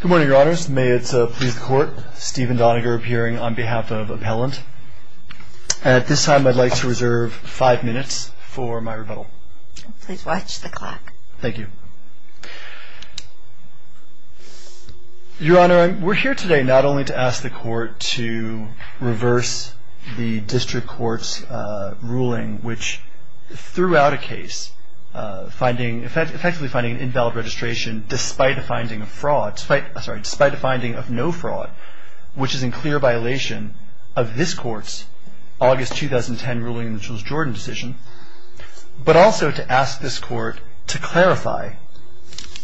Good morning, Your Honors. May it please the Court, Stephen Doniger appearing on behalf of Appellant. At this time, I'd like to reserve five minutes for my rebuttal. Please watch the clock. Thank you. Your Honor, we're here today not only to ask the Court to reverse the District Court's ruling, which threw out a case effectively finding an invalid registration despite a finding of no fraud, which is in clear violation of this Court's August 2010 ruling in the Jules Jordan decision, but also to ask this Court to clarify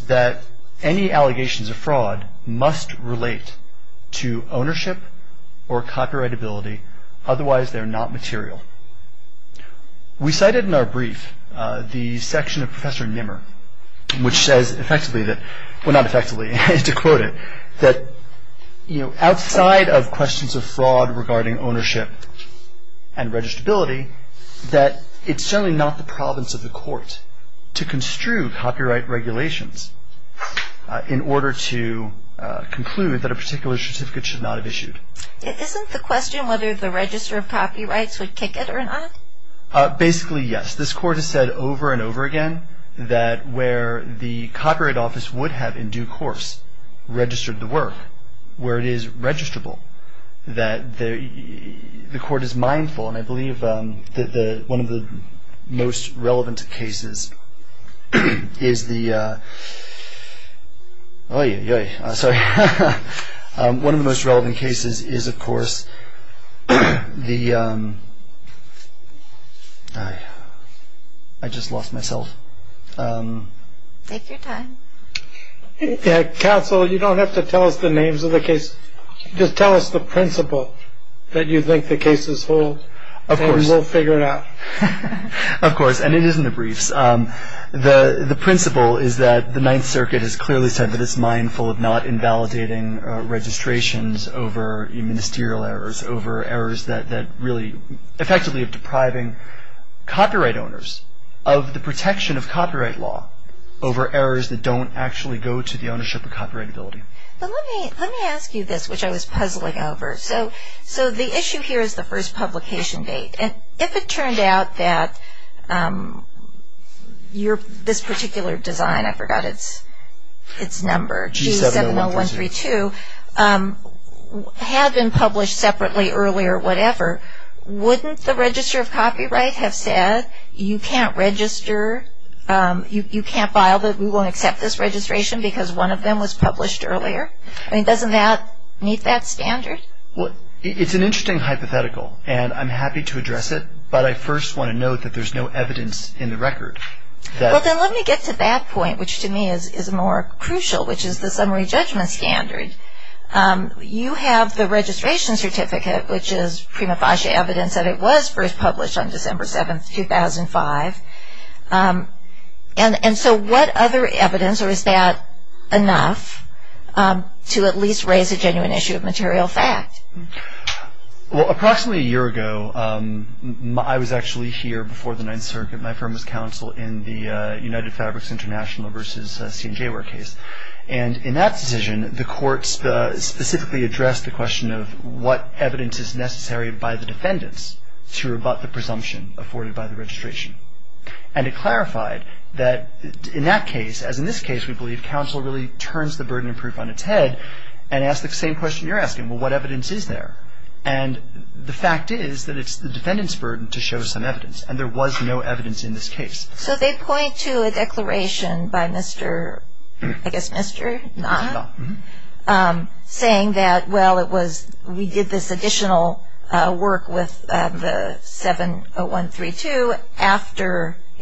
that any allegations of fraud must relate to ownership or copyrightability. Otherwise, they're not material. We cited in our brief the section of Professor Nimmer, which says effectively that, well, not effectively, to quote it, that outside of questions of fraud regarding ownership and registability, that it's certainly not the province of the Court to construe copyright regulations in order to conclude that a particular certificate should not have issued. Isn't the question whether the register of copyrights would kick it or not? Basically, yes. This Court has said over and over again that where the Copyright Office would have in due course registered the work, where it is registrable, that the Court is mindful. And I believe that one of the most relevant cases is, of course, the... I just lost myself. Take your time. Counsel, you don't have to tell us the names of the cases. Just tell us the principle that you think the cases hold, and we'll figure it out. Of course. And it is in the briefs. The principle is that the Ninth Circuit has clearly said that it's mindful of not invalidating registrations over ministerial errors, over errors that really effectively are depriving copyright owners of the protection of copyright law over errors that don't actually go to the ownership of copyrightability. But let me ask you this, which I was puzzling over. So the issue here is the first publication date. And if it turned out that this particular design, I forgot its number, G70132, had been published separately earlier, whatever, wouldn't the register of copyright have said you can't register, you can't file, we won't accept this registration because one of them was published earlier? I mean, doesn't that meet that standard? It's an interesting hypothetical, and I'm happy to address it, but I first want to note that there's no evidence in the record that... Well, then let me get to that point, which to me is more crucial, which is the summary judgment standard. You have the registration certificate, which is prima facie evidence that it was first published on December 7, 2005. And so what other evidence, or is that enough to at least raise a genuine issue of material fact? Well, approximately a year ago, I was actually here before the Ninth Circuit. My firm was counsel in the United Fabrics International v. C&J case. And in that decision, the courts specifically addressed the question of what evidence is necessary by the defendants to rebut the presumption afforded by the registration. And it clarified that in that case, as in this case we believe, counsel really turns the burden of proof on its head and asks the same question you're asking, well, what evidence is there? And the fact is that it's the defendant's burden to show some evidence, and there was no evidence in this case. So they point to a declaration by Mr., I guess Mr. Knott, saying that, well, we did this additional work with the 70132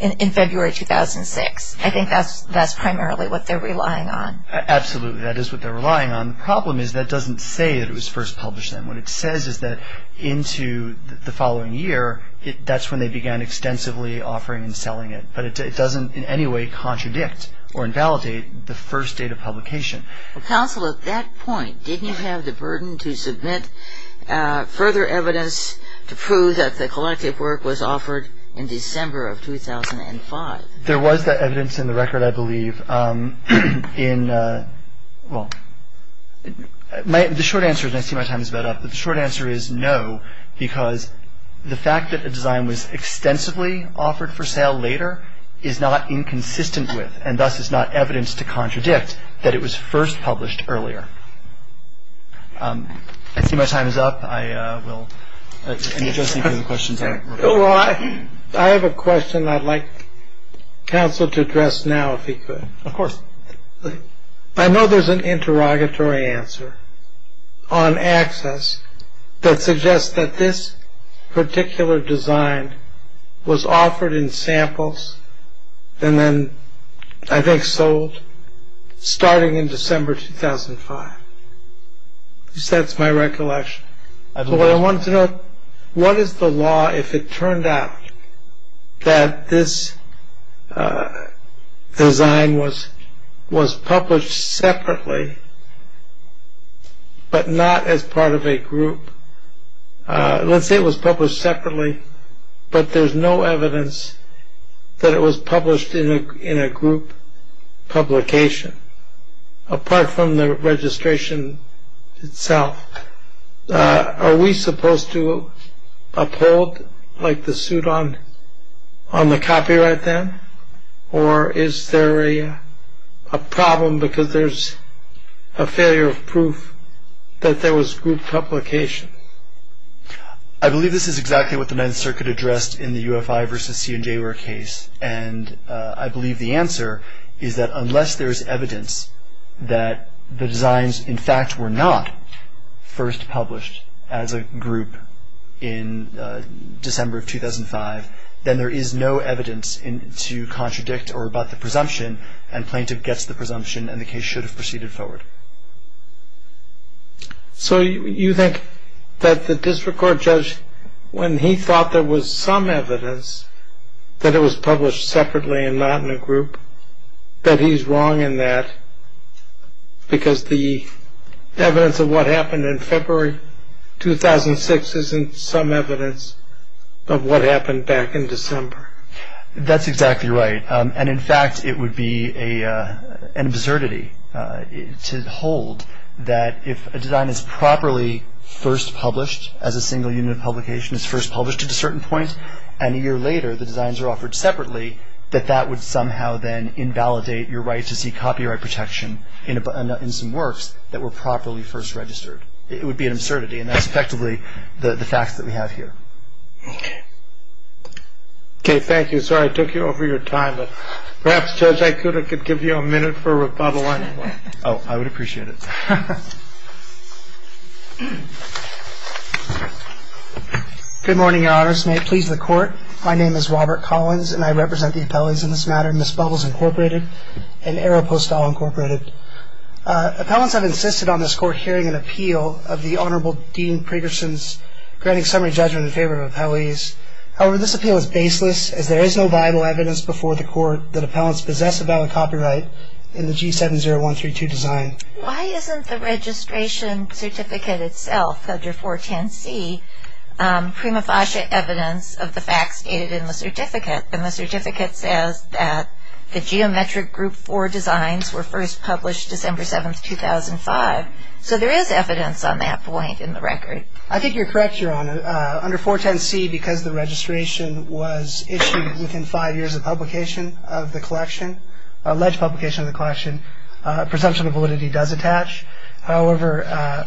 in February 2006. I think that's primarily what they're relying on. Absolutely. That is what they're relying on. The problem is that doesn't say that it was first published then. What it says is that into the following year, that's when they began extensively offering and selling it. But it doesn't in any way contradict or invalidate the first date of publication. Counsel, at that point, didn't you have the burden to submit further evidence to prove that the collective work was offered in December of 2005? There was that evidence in the record, I believe. The short answer is, and I see my time is about up, but the short answer is no because the fact that a design was extensively offered for sale later is not inconsistent with and thus is not evidence to contradict that it was first published earlier. I see my time is up. I will. I have a question I'd like counsel to address now, if he could. Of course. I know there's an interrogatory answer on access that suggests that this particular design was offered in samples and then I think sold starting in December 2005. That's my recollection. I wanted to know what is the law if it turned out that this design was published separately but not as part of a group. Let's say it was published separately but there's no evidence that it was published in a group publication apart from the registration itself. Are we supposed to uphold like the suit on the copyright then or is there a problem because there's a failure of proof that there was group publication? I believe this is exactly what the Ninth Circuit addressed in the UFI v. C&J case and I believe the answer is that unless there's evidence that the designs, in fact, were not first published as a group in December of 2005, then there is no evidence to contradict or about the presumption and plaintiff gets the presumption and the case should have proceeded forward. So you think that the district court judge, when he thought there was some evidence that it was published separately and not in a group, that he's wrong in that because the evidence of what happened in February 2006 isn't some evidence of what happened back in December? That's exactly right. And in fact, it would be an absurdity to hold that if a design is properly first published as a single unit of publication is first published at a certain point and a year later the designs are offered separately, that that would somehow then invalidate your right to see copyright protection in some works that were properly first registered. It would be an absurdity and that's effectively the facts that we have here. Okay. Okay, thank you. Sorry I took you over your time, but perhaps Judge Ikuda could give you a minute for rebuttal. Oh, I would appreciate it. Good morning, Your Honors. May it please the Court. My name is Robert Collins and I represent the appellees in this matter, Ms. Bubbles, Incorporated and Arrow Postall, Incorporated. Appellants have insisted on this Court hearing an appeal of the Honorable Dean Pregerson's granting summary judgment in favor of appellees. However, this appeal is baseless as there is no viable evidence before the Court that appellants possess a valid copyright in the G70132 design. Why isn't the registration certificate itself, Codger 410C, prima facie evidence of the facts stated in the certificate? The certificate says that the Geometric Group 4 designs were first published December 7, 2005. So there is evidence on that point in the record. I think you're correct, Your Honor. Under 410C, because the registration was issued within five years of publication of the collection, alleged publication of the collection, presumption of validity does attach. However,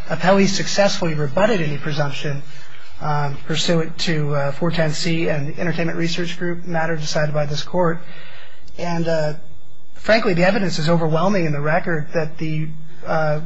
appellees successfully rebutted any presumption pursuant to 410C and the Entertainment Research Group matter decided by this Court. And frankly, the evidence is overwhelming in the record that the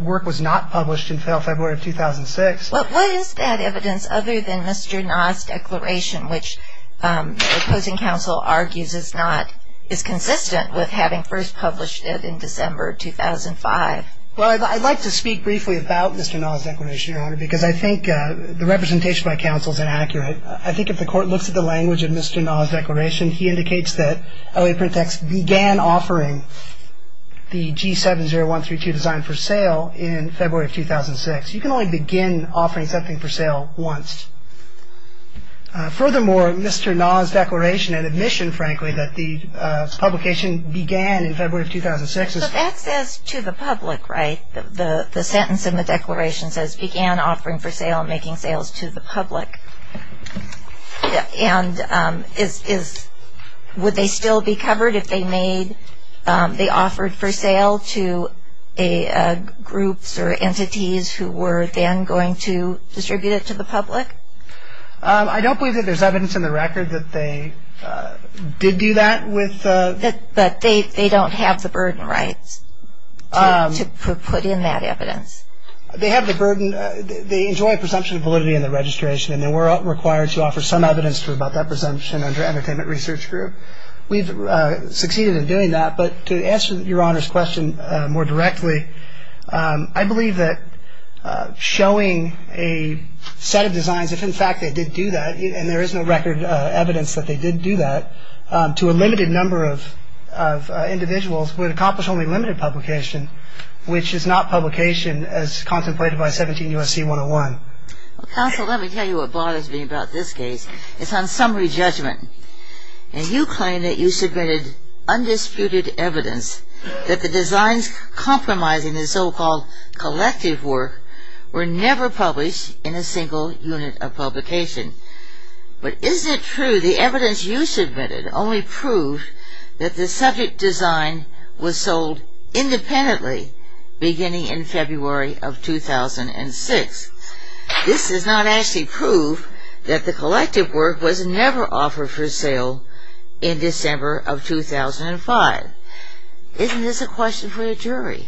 work was not published until February of 2006. Well, what is that evidence other than Mr. Nall's declaration, which the opposing counsel argues is consistent with having first published it in December 2005? Well, I'd like to speak briefly about Mr. Nall's declaration, Your Honor, because I think the representation by counsel is inaccurate. I think if the Court looks at the language of Mr. Nall's declaration, he indicates that LA Print Text began offering the G70132 design for sale in February of 2006. You can only begin offering something for sale once. Furthermore, Mr. Nall's declaration and admission, frankly, that the publication began in February of 2006. So that says to the public, right? The sentence in the declaration says began offering for sale and making sales to the public. And would they still be covered if they offered for sale to groups or entities who were then going to distribute it to the public? I don't believe that there's evidence in the record that they did do that. But they don't have the burden rights to put in that evidence. They have the burden. They enjoy a presumption of validity in the registration, and they were required to offer some evidence about that presumption under Entertainment Research Group. We've succeeded in doing that. But to answer Your Honor's question more directly, I believe that showing a set of designs, if in fact they did do that, and there is no record evidence that they did do that, to a limited number of individuals would accomplish only limited publication, which is not publication as contemplated by 17 U.S.C. 101. Counsel, let me tell you what bothers me about this case. It's on summary judgment. And you claim that you submitted undisputed evidence that the designs compromising the so-called collective work were never published in a single unit of publication. But is it true the evidence you submitted only proved that the subject design was sold independently beginning in February of 2006? This does not actually prove that the collective work was never offered for sale in December of 2005. Isn't this a question for the jury?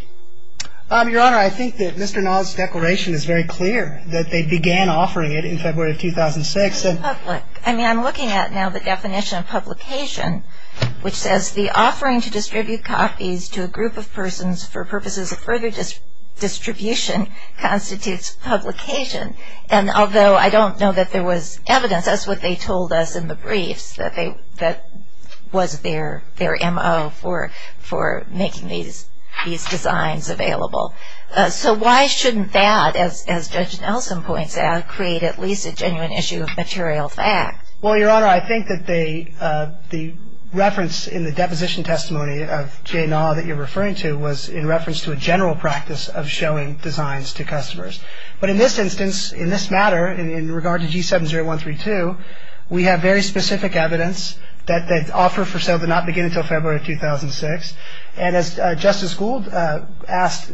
Your Honor, I think that Mr. Nod's declaration is very clear that they began offering it in February of 2006. I mean, I'm looking at now the definition of publication, which says the offering to distribute copies to a group of persons for purposes of further distribution constitutes publication. And although I don't know that there was evidence, that's what they told us in the briefs, that was their M.O. for making these designs available. So why shouldn't that, as Judge Nelson points out, create at least a genuine issue of material fact? Well, Your Honor, I think that the reference in the deposition testimony of J. Nod that you're referring to was in reference to a general practice of showing designs to customers. But in this instance, in this matter, in regard to G70132, we have very specific evidence that the offer for sale did not begin until February of 2006. And as Justice Gould asked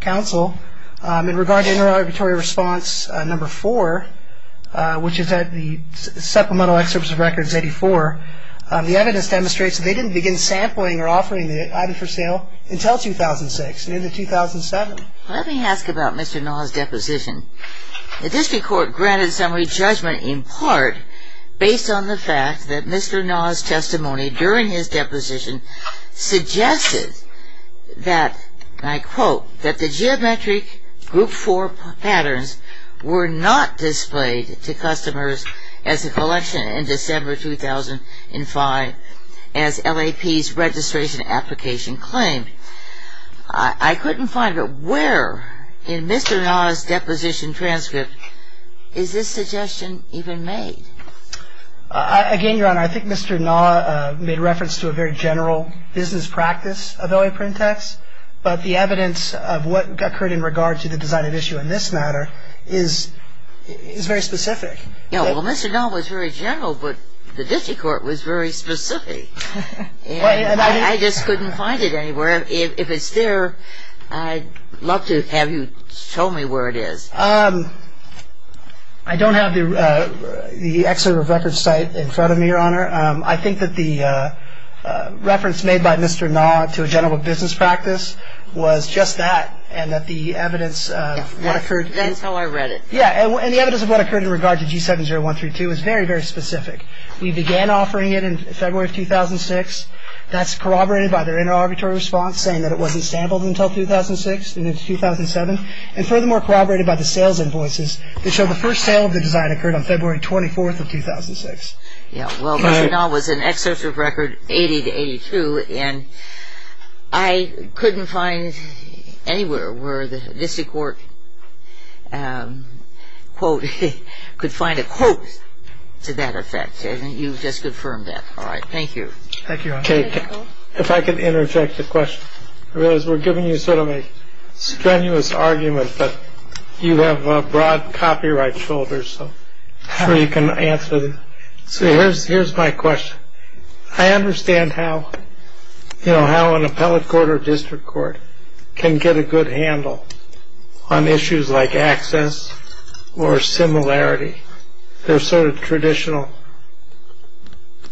counsel, in regard to interrogatory response number four, which is at the supplemental excerpts of records 84, the evidence demonstrates that they didn't begin sampling or offering the item for sale until 2006, near the 2007. Let me ask about Mr. Nod's deposition. The district court granted summary judgment in part based on the fact that Mr. Nod's testimony during his deposition suggested that, and I quote, that the geometric group four patterns were not displayed to customers as a collection in December 2005 as LAP's registration application claimed. I couldn't find it. Where in Mr. Nod's deposition transcript is this suggestion even made? Again, Your Honor, I think Mr. Nod made reference to a very general business practice of LAP, but the evidence of what occurred in regard to the design of issue in this matter is very specific. Well, Mr. Nod was very general, but the district court was very specific. I just couldn't find it anywhere. If it's there, I'd love to have you show me where it is. I don't have the excerpt of records cited in front of me, Your Honor. I think that the reference made by Mr. Nod to a general business practice was just that, and that the evidence of what occurred. That's how I read it. Yeah, and the evidence of what occurred in regard to G70132 is very, very specific. We began offering it in February of 2006. That's corroborated by their inter-arbitrary response saying that it wasn't sampled until 2006 and into 2007, and furthermore corroborated by the sales invoices that show the first sale of the design occurred on February 24th of 2006. Yeah, well, Mr. Nod was an excerpt of record 80 to 82, and I couldn't find anywhere where the district court quote could find a quote to that effect, and you've just confirmed that. All right, thank you. Thank you, Your Honor. Kate, if I could interject a question. We're giving you sort of a strenuous argument, but you have broad copyright shoulders, so I'm sure you can answer. Here's my question. I understand how an appellate court or district court can get a good handle on issues like access or similarity. They're sort of traditional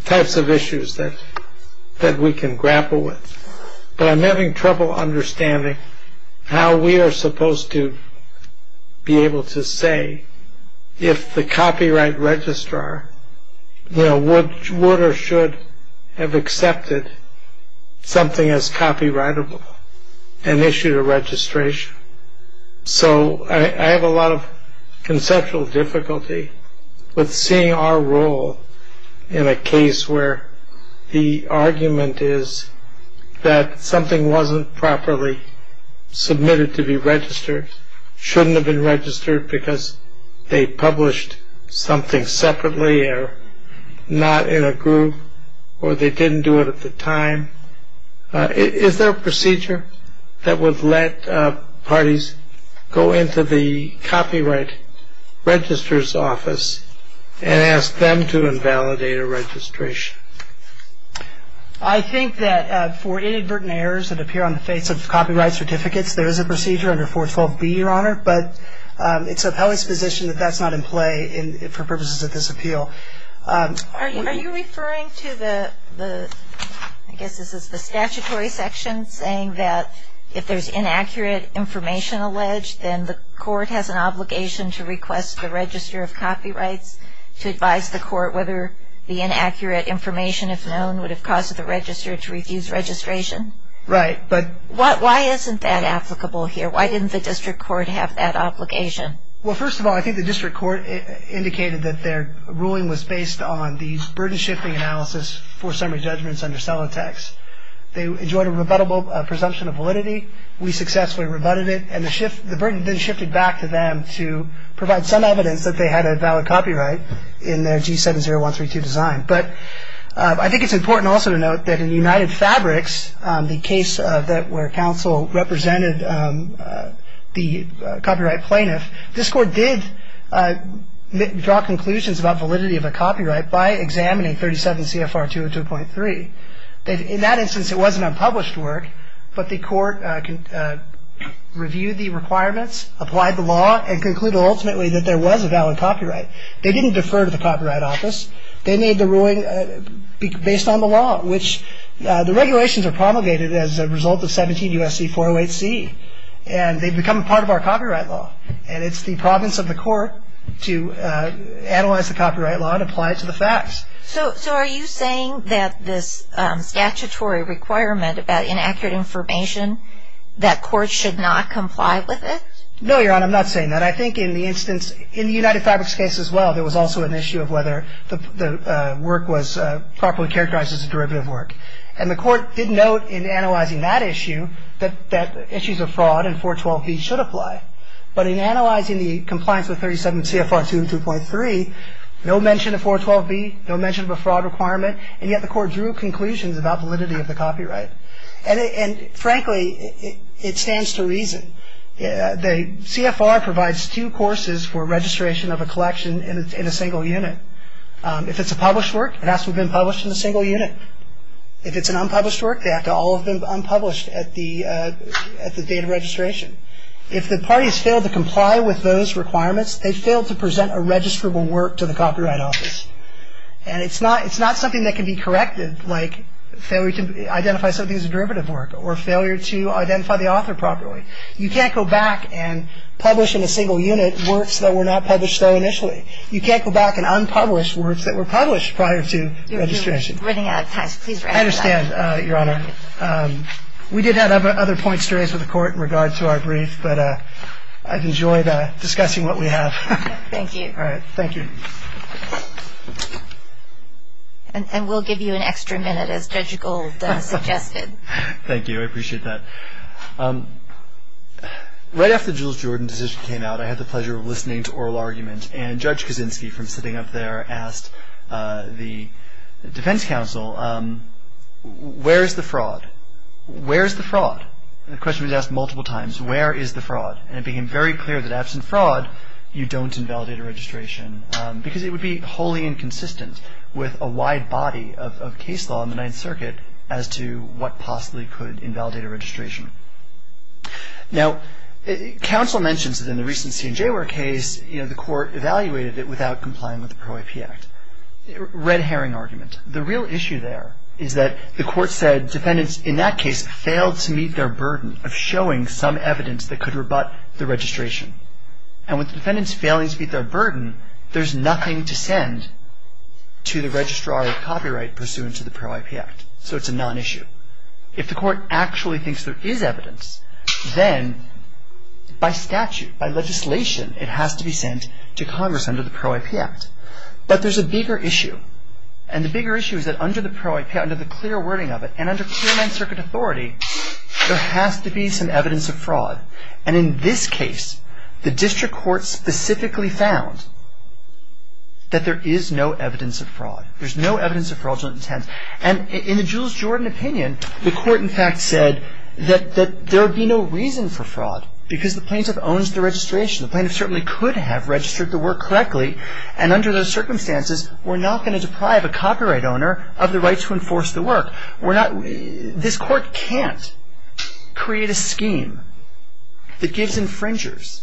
types of issues that we can grapple with, but I'm having trouble understanding how we are supposed to be able to say if the copyright registrar would or should have accepted something as copyrightable and issued a registration. So I have a lot of conceptual difficulty with seeing our role in a case where the argument is that something wasn't properly submitted to be registered, shouldn't have been registered because they published something separately or not in a group, or they didn't do it at the time. Is there a procedure that would let parties go into the copyright registrar's office and ask them to invalidate a registration? I think that for inadvertent errors that appear on the face of copyright certificates, there is a procedure under 412B, Your Honor, but it's appellate's position that that's not in play for purposes of this appeal. Are you referring to the statutory section saying that if there's inaccurate information alleged, then the court has an obligation to request the register of copyrights to advise the court whether the inaccurate information, if known, would have caused the register to refuse registration? Right, but Why isn't that applicable here? Why didn't the district court have that obligation? Well, first of all, I think the district court indicated that their ruling was based on these burden-shifting analysis for summary judgments under Celotex. They enjoyed a rebuttable presumption of validity. We successfully rebutted it, and the burden then shifted back to them to provide some evidence that they had a valid copyright in their G70132 design. But I think it's important also to note that in United Fabrics, the case where counsel represented the copyright plaintiff, this court did draw conclusions about validity of a copyright by examining 37 CFR 202.3. In that instance, it was an unpublished work, but the court reviewed the requirements, applied the law, and concluded ultimately that there was a valid copyright. They didn't defer to the Copyright Office. They made the ruling based on the law, which the regulations are promulgated as a result of 17 U.S.C. 408C, and they've become part of our copyright law. And it's the province of the court to analyze the copyright law and apply it to the facts. So are you saying that this statutory requirement about inaccurate information, that courts should not comply with it? No, Your Honor, I'm not saying that. And I think in the instance, in the United Fabrics case as well, there was also an issue of whether the work was properly characterized as a derivative work. And the court did note in analyzing that issue that issues of fraud and 412B should apply. But in analyzing the compliance with 37 CFR 202.3, no mention of 412B, no mention of a fraud requirement, and yet the court drew conclusions about validity of the copyright. And frankly, it stands to reason. The CFR provides two courses for registration of a collection in a single unit. If it's a published work, it has to have been published in a single unit. If it's an unpublished work, they have to all have been unpublished at the date of registration. If the parties fail to comply with those requirements, they fail to present a registrable work to the Copyright Office. And it's not something that can be corrected, like failure to identify something as a derivative work, or failure to identify the author properly. You can't go back and publish in a single unit works that were not published though initially. You can't go back and unpublish works that were published prior to registration. I understand, Your Honor. We did have other points to raise with the court in regard to our brief, but I've enjoyed discussing what we have. Thank you. All right. Thank you. And we'll give you an extra minute, as Judge Gold suggested. Thank you. I appreciate that. Right after the Jules Jordan decision came out, I had the pleasure of listening to oral argument. And Judge Kaczynski, from sitting up there, asked the defense counsel, where is the fraud? Where is the fraud? And the question was asked multiple times, where is the fraud? And it became very clear that absent fraud, you don't invalidate a registration, because it would be wholly inconsistent with a wide body of case law in the Ninth Circuit as to what possibly could invalidate a registration. Now, counsel mentions that in the recent C&J case, you know, the court evaluated it without complying with the PRO-IP Act. Red herring argument. The real issue there is that the court said defendants, in that case, failed to meet their burden of showing some evidence that could rebut the registration. And with defendants failing to meet their burden, there's nothing to send to the registrar of copyright pursuant to the PRO-IP Act. So it's a non-issue. If the court actually thinks there is evidence, then by statute, by legislation, it has to be sent to Congress under the PRO-IP Act. But there's a bigger issue. And the bigger issue is that under the PRO-IP Act, under the clear wording of it, and under clear Ninth Circuit authority, there has to be some evidence of fraud. And in this case, the district court specifically found that there is no evidence of fraud. There's no evidence of fraudulent intent. And in the Jules Jordan opinion, the court, in fact, said that there would be no reason for fraud because the plaintiff owns the registration. The plaintiff certainly could have registered the work correctly. And under those circumstances, we're not going to deprive a copyright owner of the right to enforce the work. This court can't create a scheme that gives infringers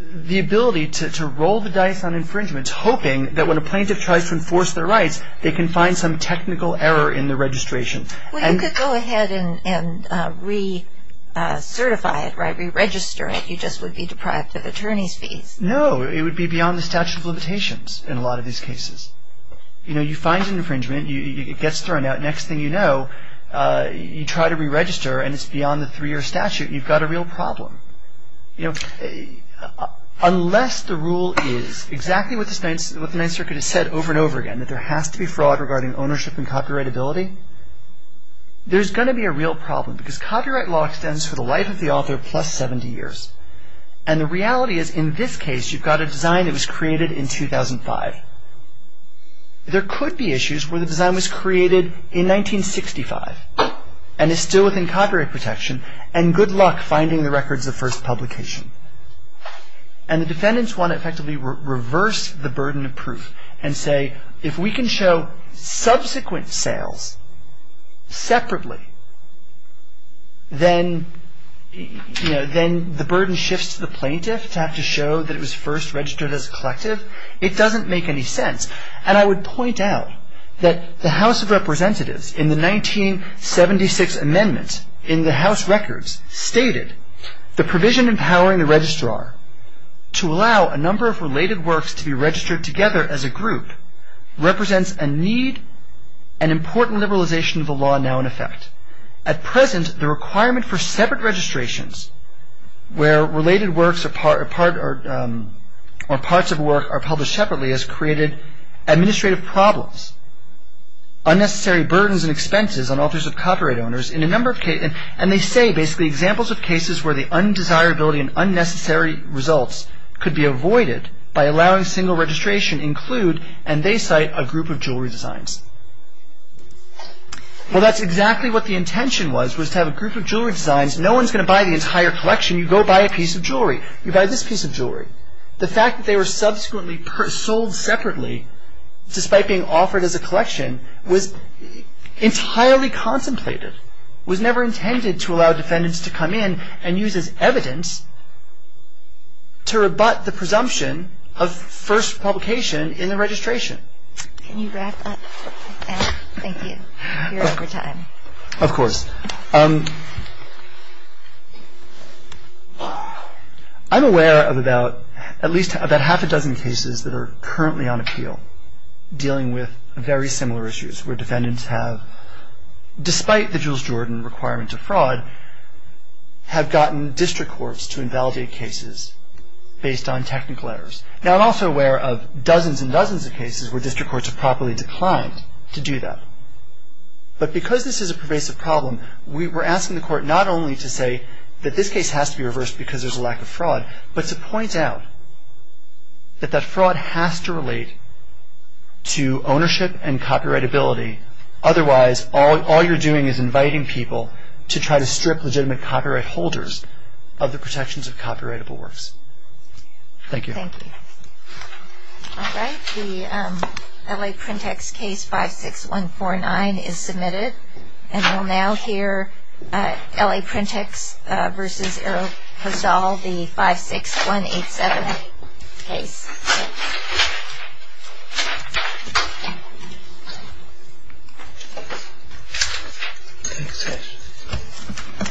the ability to roll the dice on infringements, hoping that when a plaintiff tries to enforce their rights, they can find some technical error in the registration. Well, you could go ahead and re-certify it, right, re-register it. You just would be deprived of attorney's fees. No, it would be beyond the statute of limitations in a lot of these cases. You know, you find an infringement. It gets thrown out. Next thing you know, you try to re-register, and it's beyond the three-year statute. You've got a real problem. Unless the rule is exactly what the Ninth Circuit has said over and over again, that there has to be fraud regarding ownership and copyrightability, there's going to be a real problem because copyright law extends for the life of the author plus 70 years. And the reality is, in this case, you've got a design that was created in 2005. There could be issues where the design was created in 1965 and is still within copyright protection, and good luck finding the records of first publication. And the defendants want to effectively reverse the burden of proof and say, if we can show subsequent sales separately, then the burden shifts to the plaintiff to have to show that it was first registered as a collective. It doesn't make any sense. And I would point out that the House of Representatives in the 1976 amendment in the House Records stated the provision empowering the registrar to allow a number of related works to be registered together as a group represents a need and important liberalization of the law now in effect. At present, the requirement for separate registrations where related works or parts of work are published separately has created administrative problems, unnecessary burdens and expenses on authors of copyright owners. And they say, basically, examples of cases where the undesirability and unnecessary results could be avoided by allowing single registration include, and they cite, a group of jewelry designs. Well, that's exactly what the intention was, was to have a group of jewelry designs. No one's going to buy the entire collection. You go buy a piece of jewelry. You buy this piece of jewelry. The fact that they were subsequently sold separately, despite being offered as a collection, was entirely contemplated, was never intended to allow defendants to come in and use as evidence to rebut the presumption of first publication in the registration. Can you wrap up? Thank you. You're over time. Of course. I'm aware of about at least about half a dozen cases that are currently on appeal dealing with very similar issues where defendants have, despite the Jules Jordan requirement to fraud, have gotten district courts to invalidate cases based on technical errors. Now, I'm also aware of dozens and dozens of cases where district courts have properly declined to do that. But because this is a pervasive problem, we're asking the court not only to say that this case has to be reversed because there's a lack of fraud, but to point out that that fraud has to relate to ownership and copyrightability. Otherwise, all you're doing is inviting people to try to strip legitimate copyright holders of the protections of copyrightable works. Thank you. Thank you. All right. The L.A. Printext case 56149 is submitted. And we'll now hear L.A. Printext v. Errol Hussall, the 56187 case. Thank you.